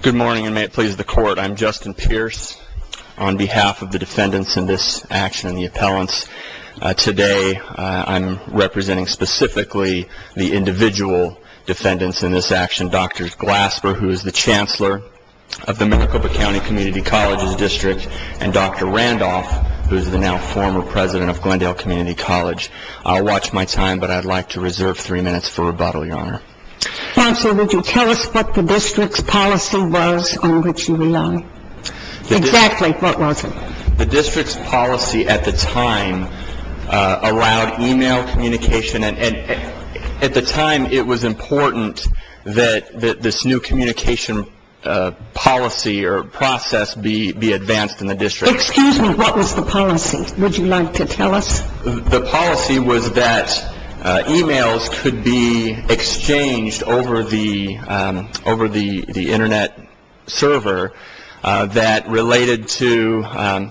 Good morning and may it please the court. I'm Justin Pierce on behalf of the defendants in this action and the appellants. Today I'm representing specifically the individual defendants in this action. Dr. Glasper, who is the chancellor of the Maricopa County Community Colleges District, and Dr. Randolph, who is the now former president of Glendale Community College. I'll watch my time, but I'd like to reserve three minutes for rebuttal, Your Honor. Chancellor, would you tell us what the district's policy was on which you rely? Exactly what was it? The district's policy at the time allowed e-mail communication, and at the time it was important that this new communication policy or process be advanced in the district. Excuse me, what was the policy? Would you like to tell us? The policy was that e-mails could be exchanged over the Internet server that related to, I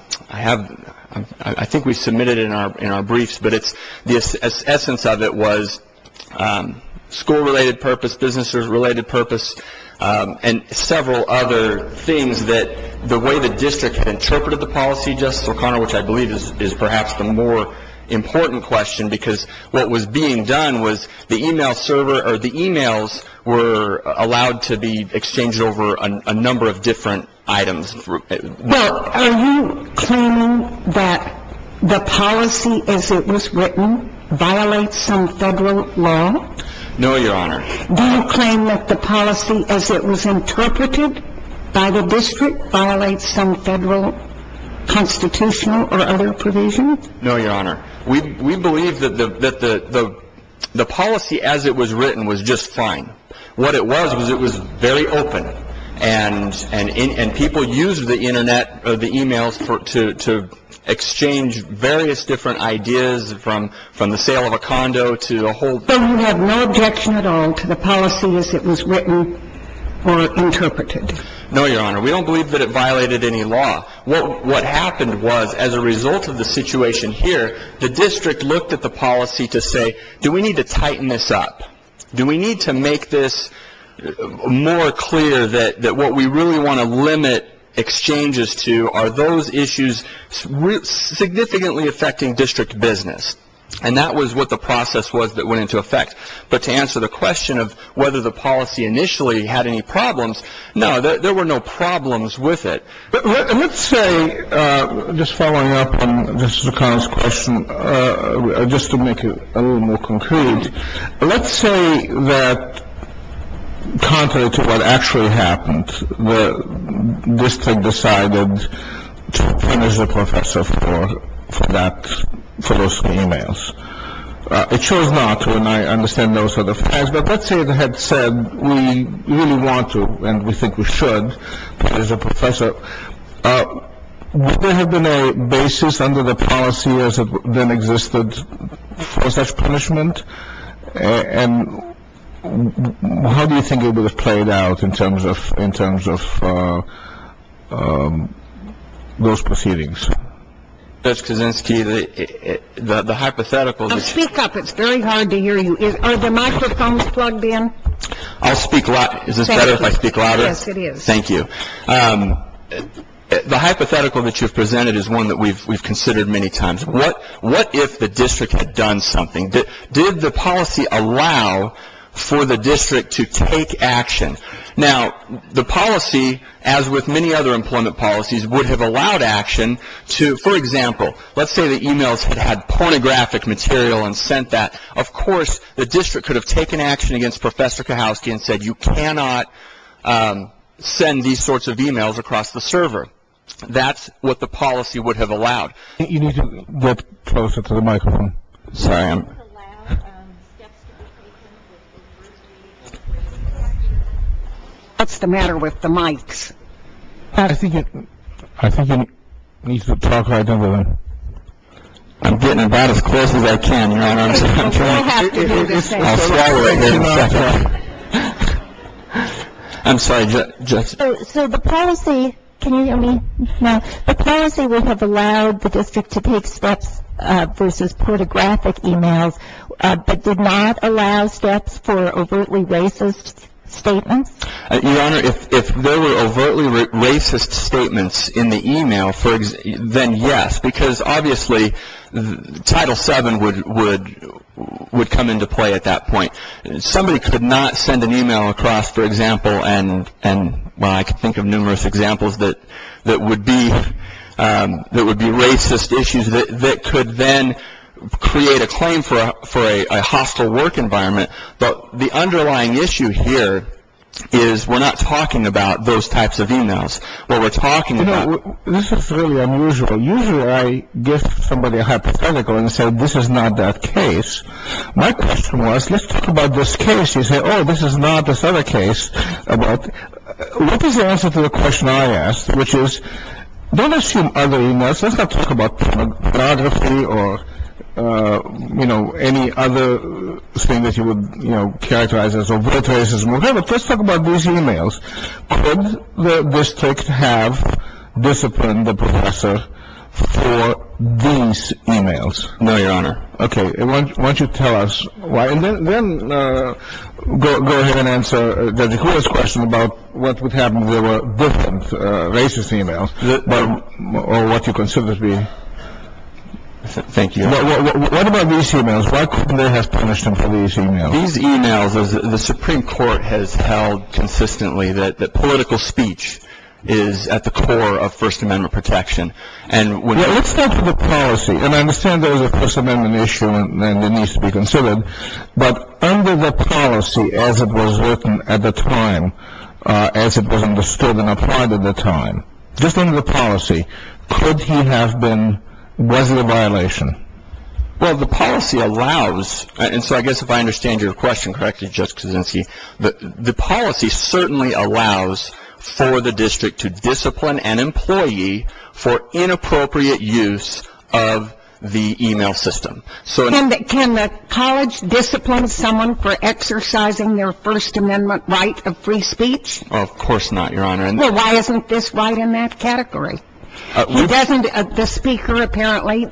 think we submitted it in our briefs, but the essence of it was school-related purpose, business-related purpose, and several other things that the way the district interpreted the policy, Justice O'Connor, which I believe is perhaps the more important question, because what was being done was the e-mails were allowed to be exchanged over a number of different items. Are you claiming that the policy as it was written violates some federal law? No, Your Honor. Do you claim that the policy as it was interpreted by the district violates some federal constitutional or other provision? No, Your Honor. We believe that the policy as it was written was just fine. What it was was it was very open, and people used the Internet or the e-mails to exchange various different ideas from the sale of a condo to the whole thing. So you have no objection at all to the policy as it was written or interpreted? No, Your Honor. We don't believe that it violated any law. What happened was, as a result of the situation here, the district looked at the policy to say, do we need to tighten this up? Do we need to make this more clear that what we really want to limit exchanges to are those issues significantly affecting district business? And that was what the process was that went into effect. But to answer the question of whether the policy initially had any problems, no, there were no problems with it. Let's say, just following up on Justice O'Connor's question, just to make it a little more concrete, let's say that contrary to what actually happened, the district decided to punish the professor for that, for those e-mails. It chose not to, and I understand those are the facts. But let's say it had said we really want to and we think we should punish the professor. Would there have been a basis under the policy as it then existed for such punishment? And how do you think it would have played out in terms of those proceedings? Judge Kaczynski, the hypothetical is- Speak up. It's very hard to hear you. Are the microphones plugged in? I'll speak louder. Is this better if I speak louder? Yes, it is. Thank you. The hypothetical that you've presented is one that we've considered many times. What if the district had done something? Did the policy allow for the district to take action? Now, the policy, as with many other employment policies, would have allowed action to, for example, let's say the e-mails had had pornographic material and sent that. Of course, the district could have taken action against Professor Kachowski and said you cannot send these sorts of e-mails across the server. That's what the policy would have allowed. You need to get closer to the microphone. Sorry, I'm- What's the matter with the mics? I think it needs to talk louder. I'm getting about as close as I can, Your Honor. I'm sorry. So the policy, can you hear me now? The policy would have allowed the district to take steps versus pornographic e-mails, but did not allow steps for overtly racist statements? Your Honor, if there were overtly racist statements in the e-mail, then yes, because obviously Title VII would come into play at that point. Somebody could not send an e-mail across, for example, and I can think of numerous examples that would be racist issues that could then create a claim for a hostile work environment. But the underlying issue here is we're not talking about those types of e-mails. What we're talking about- You know, this is really unusual. Usually I give somebody a hypothetical and say this is not that case. My question was let's talk about this case. You say, oh, this is not this other case. But what is the answer to the question I asked, which is don't assume other e-mails. Let's not talk about pornography or, you know, any other thing that you would, you know, characterize as overt racism. Okay, but let's talk about these e-mails. Could the district have disciplined the professor for these e-mails? No, Your Honor. Okay. Why don't you tell us why? And then go ahead and answer the question about what would happen if there were different racist e-mails, or what you consider to be- Thank you. What about these e-mails? Why couldn't they have punished him for these e-mails? These e-mails, the Supreme Court has held consistently that political speech is at the core of First Amendment protection. And when- Let's start with the policy. And I understand there was a First Amendment issue and it needs to be considered. But under the policy as it was written at the time, as it was understood and applied at the time, just under the policy, could he have been, was it a violation? Well, the policy allows, and so I guess if I understand your question correctly, Judge Kaczynski, the policy certainly allows for the district to discipline an employee for inappropriate use of the e-mail system. Can the college discipline someone for exercising their First Amendment right of free speech? Of course not, Your Honor. Well, why isn't this right in that category? Doesn't the speaker apparently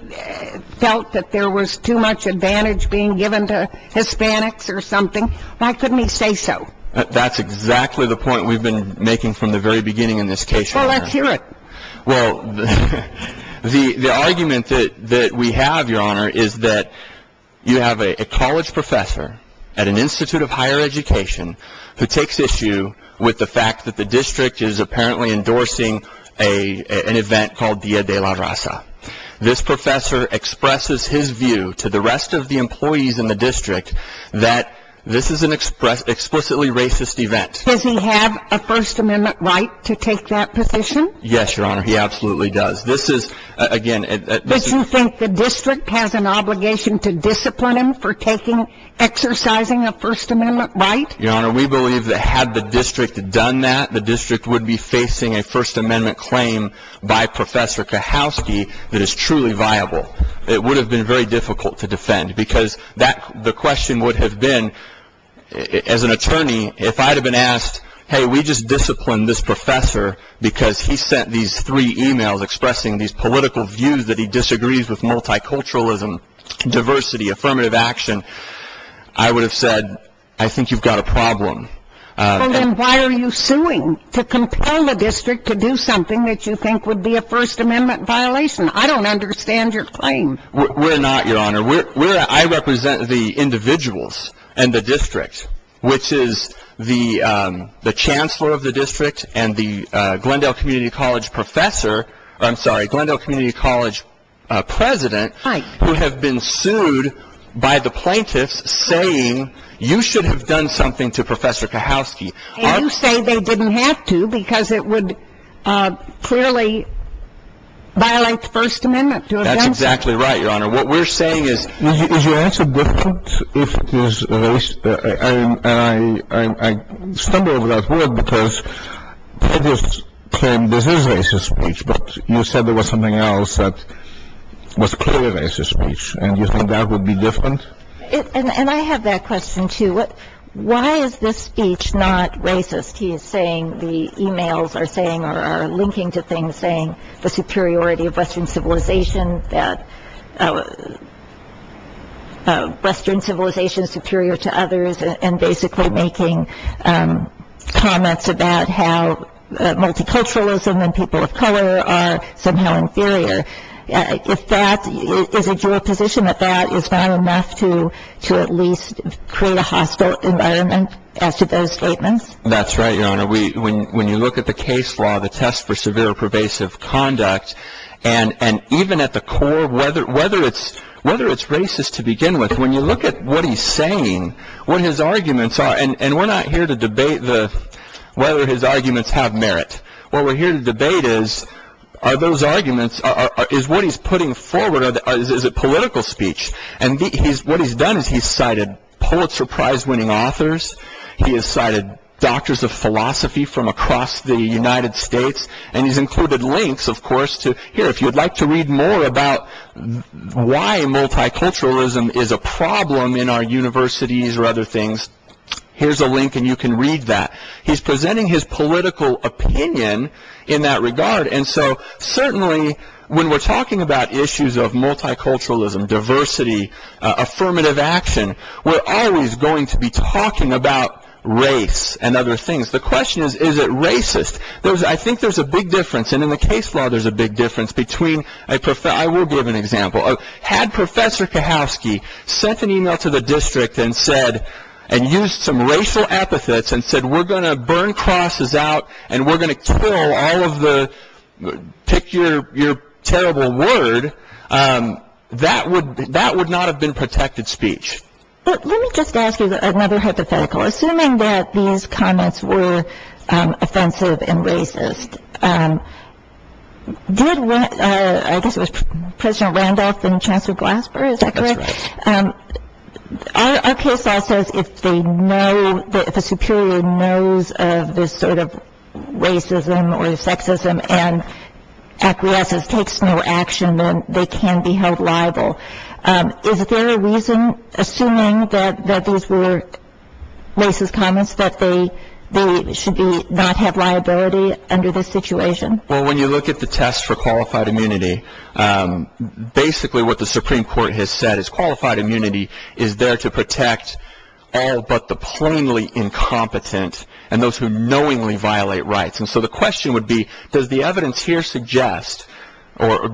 felt that there was too much advantage being given to Hispanics or something? Why couldn't he say so? That's exactly the point we've been making from the very beginning in this case, Your Honor. Well, let's hear it. Well, the argument that we have, Your Honor, is that you have a college professor at an institute of higher education who takes issue with the fact that the district is apparently endorsing an event called Dia de la Raza. This professor expresses his view to the rest of the employees in the district that this is an explicitly racist event. Does he have a First Amendment right to take that position? Yes, Your Honor, he absolutely does. Does he think the district has an obligation to discipline him for exercising a First Amendment right? Your Honor, we believe that had the district done that, the district would be facing a First Amendment claim by Professor Kahowski that is truly viable. It would have been very difficult to defend because the question would have been, as an attorney, if I had been asked, hey, we just disciplined this professor because he sent these three emails expressing these political views that he disagrees with multiculturalism, diversity, affirmative action, I would have said, I think you've got a problem. Well, then why are you suing to compel the district to do something that you think would be a First Amendment violation? I don't understand your claim. We're not, Your Honor. I represent the individuals and the district, which is the chancellor of the district and the Glendale Community College professor, I'm sorry, Glendale Community College president, who have been sued by the plaintiffs saying you should have done something to Professor Kahowski. And you say they didn't have to because it would clearly violate the First Amendment. That's exactly right, Your Honor. What we're saying is. Is your answer different if it is racist? And I stumble over that word because previous claim this is racist speech, but you said there was something else that was clearly racist speech. And you think that would be different? And I have that question, too. Why is this speech not racist? He is saying the emails are saying or are linking to things saying the superiority of Western civilization, that Western civilization is superior to others and basically making comments about how multiculturalism and people of color are somehow inferior. Is it your position that that is not enough to at least create a hostile environment as to those statements? That's right, Your Honor. When you look at the case law, the test for severe pervasive conduct, and even at the core whether it's racist to begin with, when you look at what he's saying, what his arguments are, and we're not here to debate whether his arguments have merit. What we're here to debate is are those arguments, is what he's putting forward, is it political speech? And what he's done is he's cited Pulitzer Prize winning authors. He has cited doctors of philosophy from across the United States. And he's included links, of course. Here, if you'd like to read more about why multiculturalism is a problem in our universities or other things, here's a link and you can read that. He's presenting his political opinion in that regard. And so certainly when we're talking about issues of multiculturalism, diversity, affirmative action, we're always going to be talking about race and other things. The question is, is it racist? I think there's a big difference, and in the case law there's a big difference between a professor. I will give an example. Had Professor Kahowski sent an email to the district and said, and used some racial epithets and said, we're going to burn crosses out and we're going to kill all of the, pick your terrible word, that would not have been protected speech. But let me just ask you another hypothetical. Assuming that these comments were offensive and racist, did, I guess it was President Randolph and Chancellor Glasper, is that correct? That's right. Our case law says if they know, if a superior knows of this sort of racism or sexism and acquiesces, takes no action, then they can be held liable. Is there a reason, assuming that these were racist comments, that they should not have liability under this situation? Well, when you look at the test for qualified immunity, basically what the Supreme Court has said is qualified immunity is there to protect all but the plainly incompetent and those who knowingly violate rights. And so the question would be, does the evidence here suggest or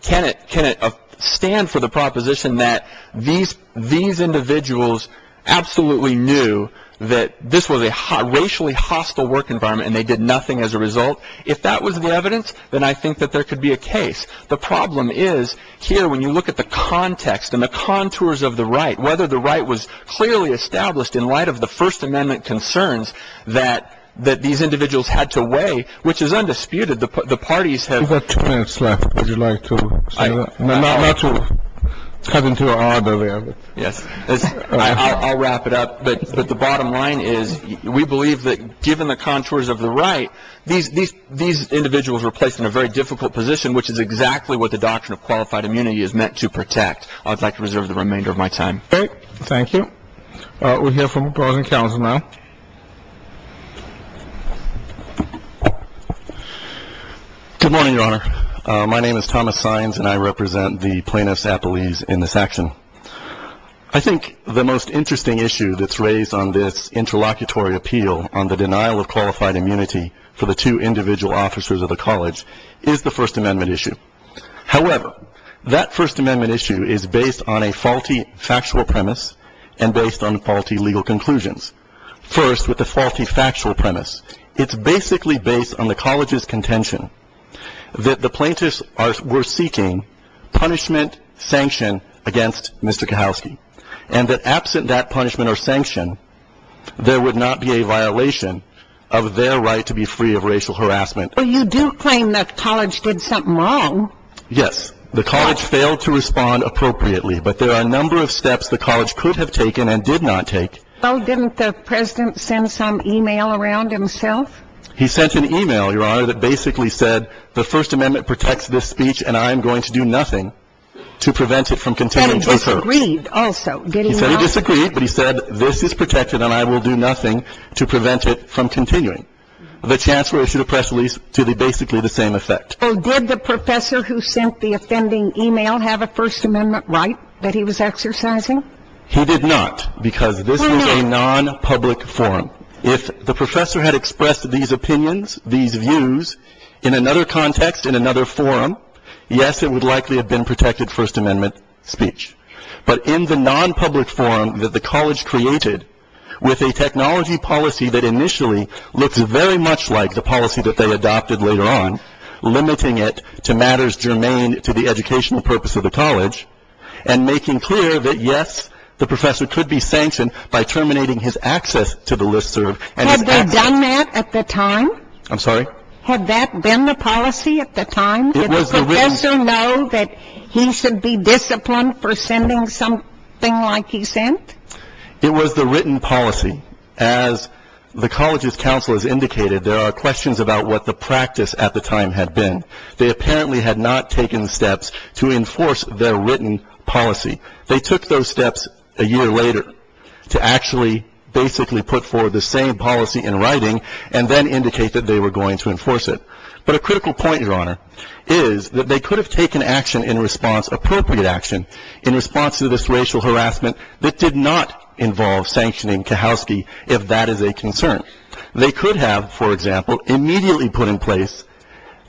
can it stand for the proposition that these individuals absolutely knew that this was a racially hostile work environment and they did nothing as a result? If that was the evidence, then I think that there could be a case. The problem is here when you look at the context and the contours of the right, whether the right was clearly established in light of the First Amendment concerns that these individuals had to weigh, which is undisputed, the parties have... You've got two minutes left. Would you like to say that? Not to cut into your arbor there. Yes, I'll wrap it up. But the bottom line is we believe that given the contours of the right, these individuals were placed in a very difficult position, which is exactly what the doctrine of qualified immunity is meant to protect. I'd like to reserve the remainder of my time. Thank you. We'll hear from the closing counsel now. Good morning, Your Honor. My name is Thomas Saenz and I represent the plaintiffs' appellees in this action. I think the most interesting issue that's raised on this interlocutory appeal on the denial of qualified immunity for the two individual officers of the college is the First Amendment issue. However, that First Amendment issue is based on a faulty factual premise and based on faulty legal conclusions. First, with the faulty factual premise, it's basically based on the college's contention that the plaintiffs were seeking punishment, sanction against Mr. Kahowski and that absent that punishment or sanction, there would not be a violation of their right to be free of racial harassment. Well, you do claim that college did something wrong. Yes. The college failed to respond appropriately, but there are a number of steps the college could have taken and did not take. Well, didn't the president send some e-mail around himself? He sent an e-mail, Your Honor, that basically said the First Amendment protects this speech and I am going to do nothing to prevent it from continuing to occur. He said he disagreed also. He said he disagreed, but he said this is protected and I will do nothing to prevent it from continuing. The chancellor issued a press release to basically the same effect. So did the professor who sent the offending e-mail have a First Amendment right that he was exercising? He did not because this was a non-public forum. If the professor had expressed these opinions, these views, in another context, in another forum, yes, it would likely have been protected First Amendment speech. But in the non-public forum that the college created with a technology policy that initially looked very much like the policy that they adopted later on, limiting it to matters germane to the educational purpose of the college and making clear that, yes, the professor could be sanctioned by terminating his access to the listserv. Had they done that at the time? I'm sorry? Had that been the policy at the time? Did the professor know that he should be disciplined for sending something like he sent? It was the written policy. As the college's counselors indicated, there are questions about what the practice at the time had been. They apparently had not taken steps to enforce their written policy. They took those steps a year later to actually basically put forward the same policy in writing and then indicate that they were going to enforce it. But a critical point, Your Honor, is that they could have taken action in response, in response to this racial harassment that did not involve sanctioning Kahowsky if that is a concern. They could have, for example, immediately put in place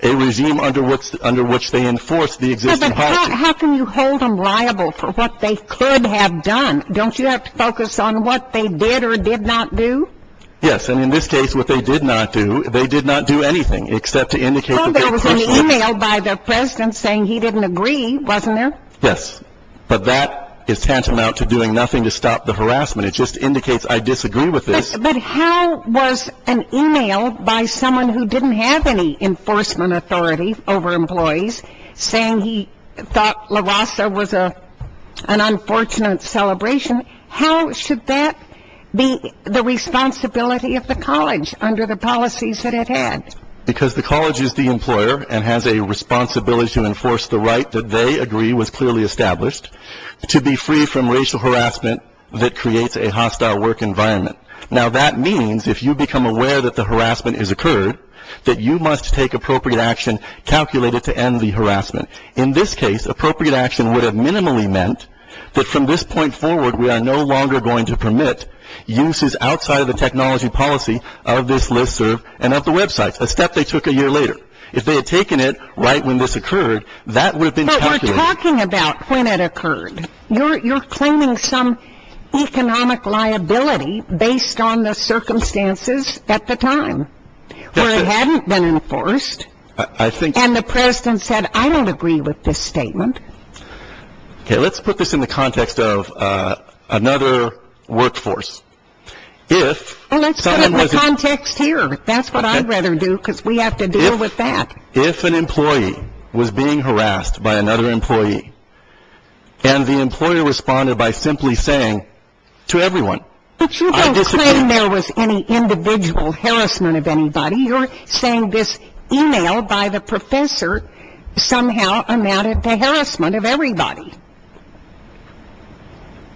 a regime under which they enforced the existing policy. But how can you hold them liable for what they could have done? Don't you have to focus on what they did or did not do? Yes, and in this case, what they did not do, they did not do anything except to indicate that the professor by the president saying he didn't agree, wasn't there? Yes, but that is tantamount to doing nothing to stop the harassment. It just indicates I disagree with this. But how was an email by someone who didn't have any enforcement authority over employees saying he thought LAVASA was an unfortunate celebration, how should that be the responsibility of the college under the policies that it had? Because the college is the employer and has a responsibility to enforce the right that they agree was clearly established to be free from racial harassment that creates a hostile work environment. Now that means if you become aware that the harassment has occurred, that you must take appropriate action calculated to end the harassment. In this case, appropriate action would have minimally meant that from this point forward, we are no longer going to permit uses outside of the technology policy of this listserv and of the websites. A step they took a year later. If they had taken it right when this occurred, that would have been calculated. But we're talking about when it occurred. You're claiming some economic liability based on the circumstances at the time where it hadn't been enforced. And the president said I don't agree with this statement. Okay, let's put this in the context of another workforce. Well, let's put it in the context here. That's what I'd rather do because we have to deal with that. If an employee was being harassed by another employee and the employer responded by simply saying to everyone. But you don't claim there was any individual harassment of anybody. You're saying this e-mail by the professor somehow amounted to harassment of everybody.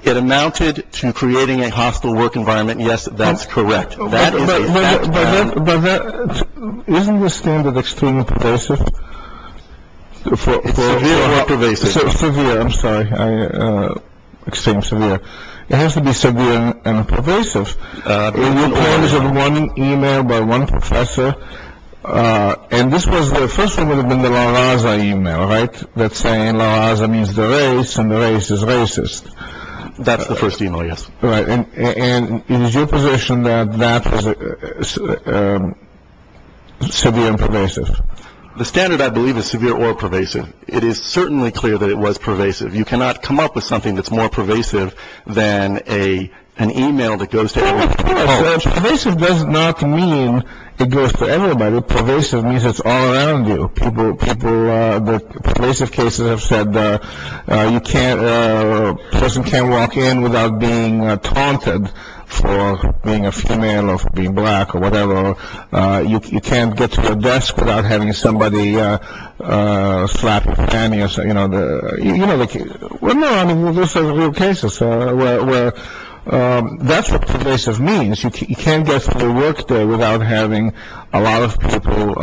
It amounted to creating a hostile work environment. Yes, that's correct. That isn't the standard. Extremely pervasive. I'm sorry. Extremely severe. It has to be severe and pervasive. One e-mail by one professor. And this was the first one would have been the last e-mail. All right. That's saying it means the race and the race is racist. That's the first e-mail, yes. Right. And is your position that that was severe and pervasive? The standard, I believe, is severe or pervasive. It is certainly clear that it was pervasive. You cannot come up with something that's more pervasive than an e-mail that goes to everybody. Pervasive does not mean it goes to everybody. Pervasive means it's all around you. The pervasive cases have said a person can't walk in without being taunted for being a female or for being black or whatever. You can't get to a desk without having somebody slap your panty. No, I mean, those are real cases where that's what pervasive means. You can't get to the work day without having a lot of people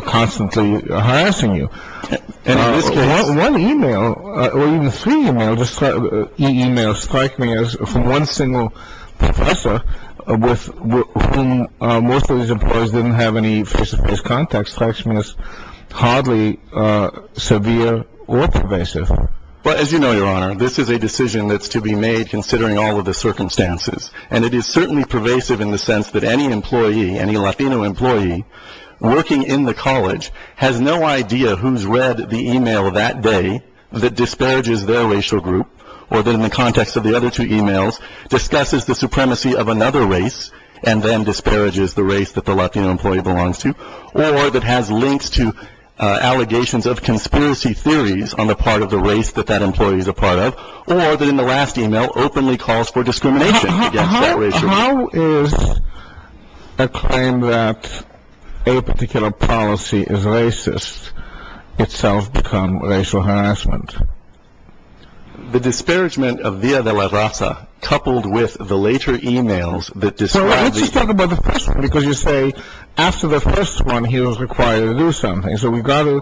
constantly harassing you. And in this case, one e-mail or even three e-mails strike me as from one single professor with whom most of these employees didn't have any face-to-face contact strikes me as hardly severe or pervasive. But as you know, Your Honor, this is a decision that's to be made considering all of the circumstances. And it is certainly pervasive in the sense that any employee, any Latino employee working in the college, has no idea who's read the e-mail that day that disparages their racial group or that in the context of the other two e-mails discusses the supremacy of another race and then disparages the race that the Latino employee belongs to or that has links to allegations of conspiracy theories on the part of the race that that employee is a part of or that in the last e-mail openly calls for discrimination against that racial group. How is a claim that a particular policy is racist itself become racial harassment? The disparagement of Via de la Raza coupled with the later e-mails that describe the Let's talk about the first one because you say after the first one he was required to do something. So we've got to,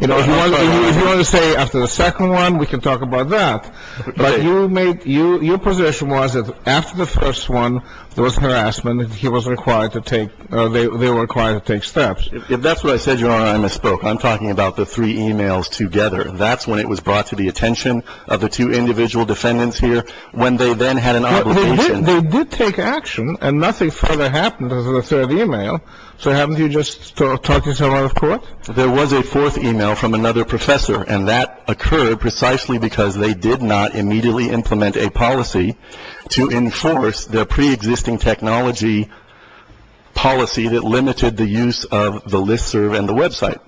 you know, if you want to say after the second one, we can talk about that. But your position was that after the first one, there was harassment. He was required to take, they were required to take steps. If that's what I said, Your Honor, I misspoke. I'm talking about the three e-mails together. That's when it was brought to the attention of the two individual defendants here when they then had an obligation. They did take action and nothing further happened to the third e-mail. So haven't you just talked yourself out of court? There was a fourth e-mail from another professor and that occurred precisely because they did not immediately implement a policy to enforce their pre-existing technology policy that limited the use of the listserv and the website.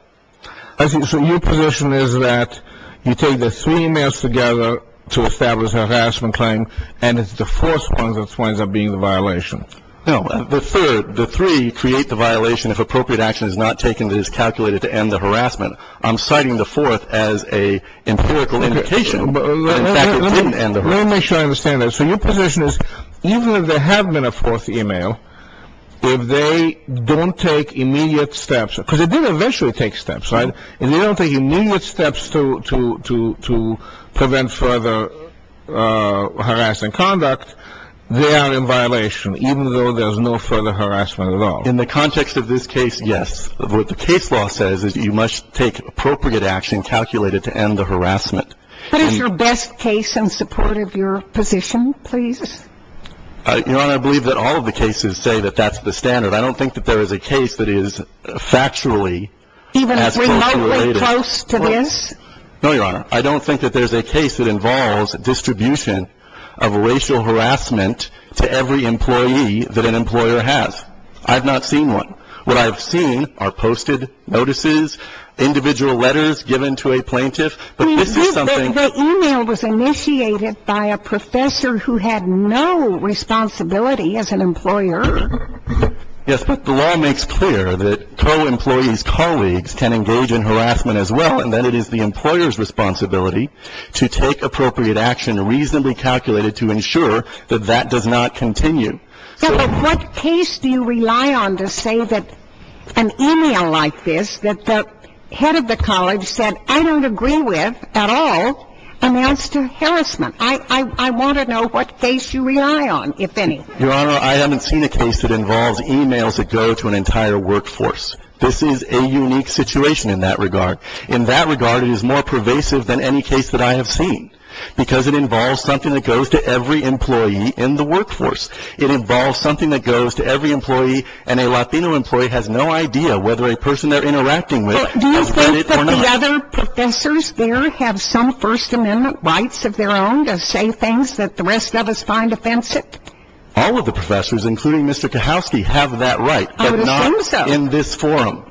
So your position is that you take the three e-mails together to establish a harassment claim and it's the fourth one that winds up being the violation. No. The third, the three create the violation if appropriate action is not taken that is calculated to end the harassment. I'm citing the fourth as a empirical indication that in fact it didn't end the harassment. Let me make sure I understand that. So your position is even if there had been a fourth e-mail, if they don't take immediate steps, because they did eventually take steps, right, if they don't take immediate steps to prevent further harassment conduct, they are in violation even though there's no further harassment at all. In the context of this case, yes. What the case law says is you must take appropriate action calculated to end the harassment. What is your best case in support of your position, please? Your Honor, I believe that all of the cases say that that's the standard. I don't think that there is a case that is factually as closely related. Even remotely close to this? No, Your Honor. I don't think that there's a case that involves distribution of racial harassment to every employee that an employer has. I've not seen one. What I've seen are posted notices, individual letters given to a plaintiff. The e-mail was initiated by a professor who had no responsibility as an employer. Yes, but the law makes clear that co-employees' colleagues can engage in harassment as well, and that it is the employer's responsibility to take appropriate action reasonably calculated to ensure that that does not continue. Yes, but what case do you rely on to say that an e-mail like this that the head of the college said, I don't agree with at all, amounts to harassment? I want to know what case you rely on, if any. Your Honor, I haven't seen a case that involves e-mails that go to an entire workforce. This is a unique situation in that regard. In that regard, it is more pervasive than any case that I have seen, because it involves something that goes to every employee in the workforce. It involves something that goes to every employee, and a Latino employee has no idea whether a person they're interacting with has done it or not. Do you think that the other professors there have some First Amendment rights of their own to say things that the rest of us find offensive? All of the professors, including Mr. Kahowski, have that right, but not in this forum.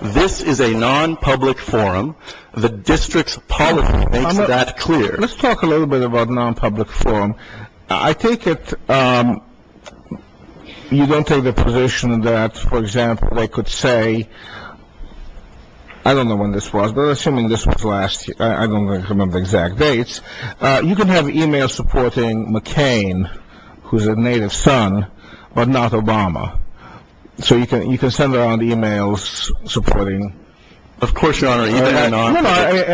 This is a non-public forum. The district's policy makes that clear. Let's talk a little bit about non-public forum. I take it you don't take the position that, for example, they could say, I don't know when this was, but assuming this was last year, I don't remember the exact dates. You can have e-mails supporting McCain, who's a native son, but not Obama. So you can send around e-mails supporting. Of course, Your Honor, e-mails are non-public.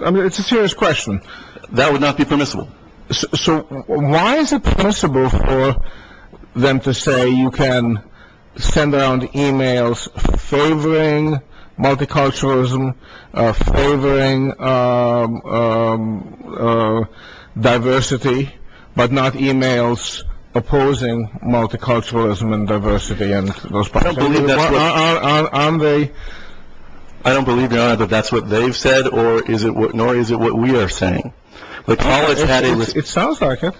No, no, it's a serious question. That would not be permissible. So why is it permissible for them to say you can send around e-mails favoring multiculturalism, favoring diversity, but not e-mails opposing multiculturalism and diversity? I don't believe, Your Honor, that that's what they've said, nor is it what we are saying. It sounds like it.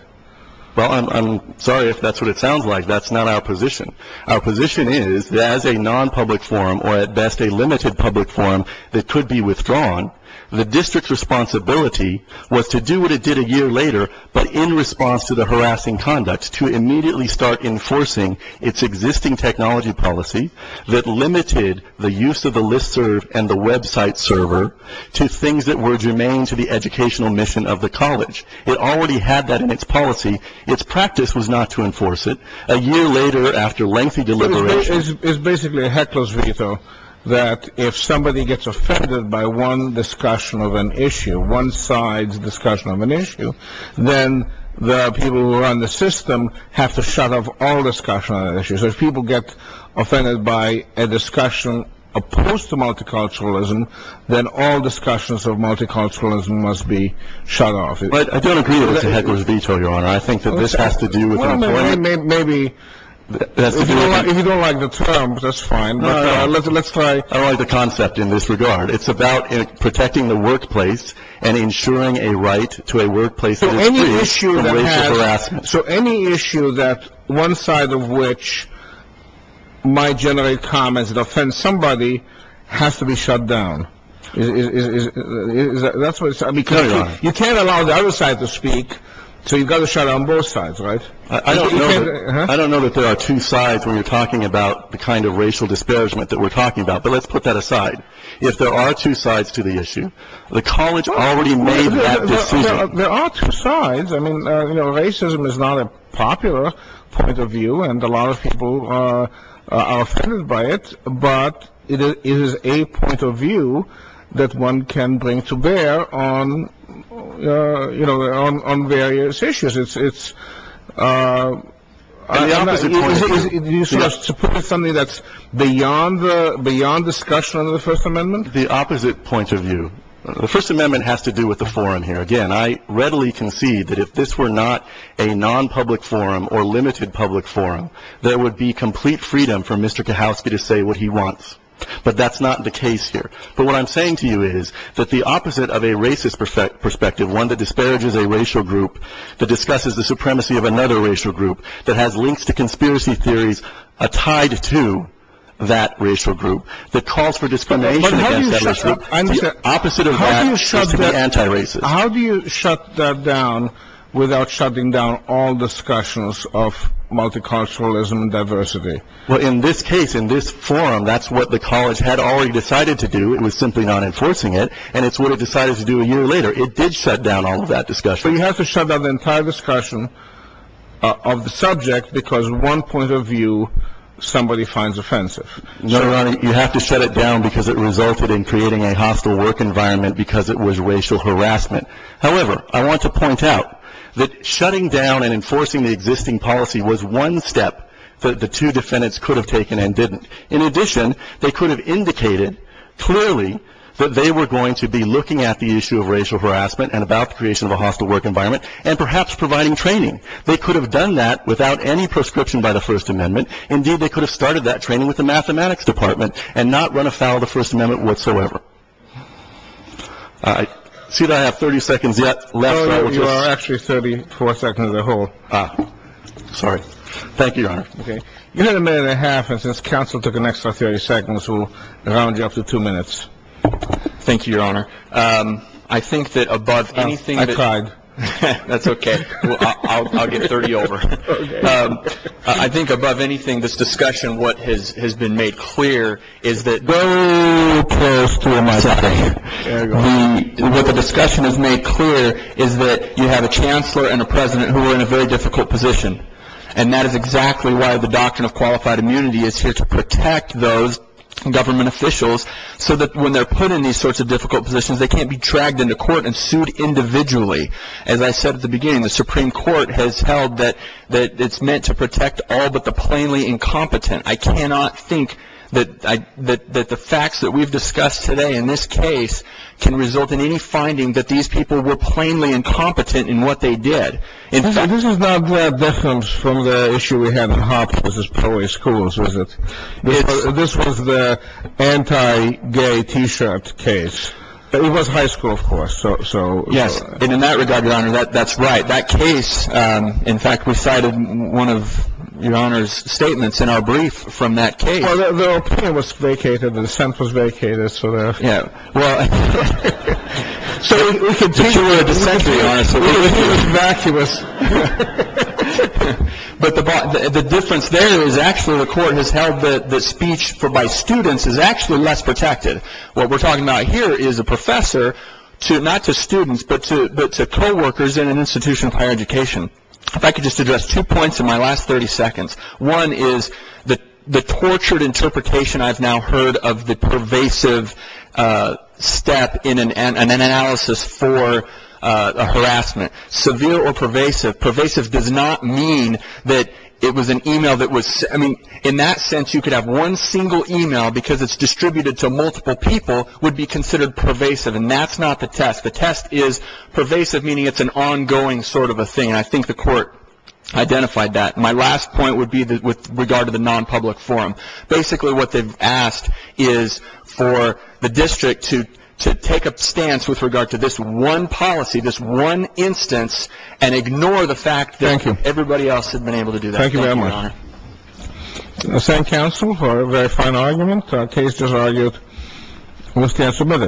Well, I'm sorry if that's what it sounds like. That's not our position. Our position is that as a non-public forum, or at best a limited public forum that could be withdrawn, the district's responsibility was to do what it did a year later, but in response to the harassing conduct, to immediately start enforcing its existing technology policy that limited the use of the Listserv and the website server to things that were germane to the educational mission of the college. It already had that in its policy. Its practice was not to enforce it. A year later, after lengthy deliberations... So it's basically a heckler's veto that if somebody gets offended by one discussion of an issue, one side's discussion of an issue, then the people who run the system have to shut off all discussion of that issue. So if people get offended by a discussion opposed to multiculturalism, then all discussions of multiculturalism must be shut off. But I don't agree with the heckler's veto, Your Honor. I think that this has to do with... Well, maybe... If you don't like the term, that's fine, but let's try... I don't like the concept in this regard. It's about protecting the workplace and ensuring a right to a workplace that is free from racial harassment. So any issue that one side of which might generate comments that offend somebody has to be shut down. That's what it's... You can't allow the other side to speak, so you've got to shut down both sides, right? I don't know that there are two sides when you're talking about the kind of racial disparagement that we're talking about, but let's put that aside. If there are two sides to the issue, the college already made that decision. There are two sides. I mean, racism is not a popular point of view, and a lot of people are offended by it, but it is a point of view that one can bring to bear on various issues. Do you support something that's beyond discussion under the First Amendment? The opposite point of view. The First Amendment has to do with the forum here. Again, I readily concede that if this were not a non-public forum or limited public forum, there would be complete freedom for Mr. Kahowsky to say what he wants, but that's not the case here. But what I'm saying to you is that the opposite of a racist perspective, one that disparages a racial group, that discusses the supremacy of another racial group, that has links to conspiracy theories tied to that racial group, that calls for discrimination against that racial group, the opposite of that is to be anti-racist. How do you shut that down without shutting down all discussions of multiculturalism and diversity? Well, in this case, in this forum, that's what the college had already decided to do. It was simply not enforcing it, and it's what it decided to do a year later. It did shut down all of that discussion. So you have to shut down the entire discussion of the subject because one point of view somebody finds offensive. No, Your Honor, you have to shut it down because it resulted in creating a hostile work environment because it was racial harassment. However, I want to point out that shutting down and enforcing the existing policy was one step that the two defendants could have taken and didn't. In addition, they could have indicated clearly that they were going to be looking at the issue of racial harassment and about the creation of a hostile work environment and perhaps providing training. They could have done that without any proscription by the First Amendment. Indeed, they could have started that training with the mathematics department and not run afoul of the First Amendment whatsoever. I see that I have 30 seconds left. No, no, you are actually 34 seconds to hold. Sorry. Thank you, Your Honor. You had a minute and a half and since counsel took an extra 30 seconds, we'll round you up to two minutes. Thank you, Your Honor. I think that above anything. That's OK. I'll get 30 over. I think above anything, this discussion, what has been made clear is that the discussion is made clear is that you have a chancellor and a president who are in a very difficult position. And that is exactly why the doctrine of qualified immunity is here to protect those government officials so that when they're put in these sorts of difficult positions, they can't be dragged into court and sued individually. As I said at the beginning, the Supreme Court has held that it's meant to protect all but the plainly incompetent. I cannot think that the facts that we've discussed today in this case can result in any finding that these people were plainly incompetent in what they did. In fact, this is not from the issue we have in Harper's Police Schools, is it? This was the anti-gay T-shirt case. It was high school, of course. So. Yes. And in that regard, Your Honor, that's right. That case. In fact, we cited one of your honor's statements in our brief from that case. It was vacated. The sentence was vacated. Yeah. Well. So we can take your dissent, Your Honor. It was vacuous. But the difference there is actually the court has held that the speech by students is actually less protected. What we're talking about here is a professor to not just students, but to coworkers in an institution of higher education. If I could just address two points in my last 30 seconds. One is the tortured interpretation I've now heard of the pervasive step in an analysis for harassment. Severe or pervasive. Pervasive does not mean that it was an e-mail that was. I mean, in that sense, you could have one single e-mail because it's distributed to multiple people would be considered pervasive. And that's not the test. The test is pervasive, meaning it's an ongoing sort of a thing. And I think the court identified that. My last point would be that with regard to the nonpublic forum. Basically, what they've asked is for the district to take a stance with regard to this one policy, this one instance, and ignore the fact. Thank you. Everybody else had been able to do that. Thank you very much. Thank you, Your Honor. The same counsel for a very fine argument. The case is argued. The stand submitted.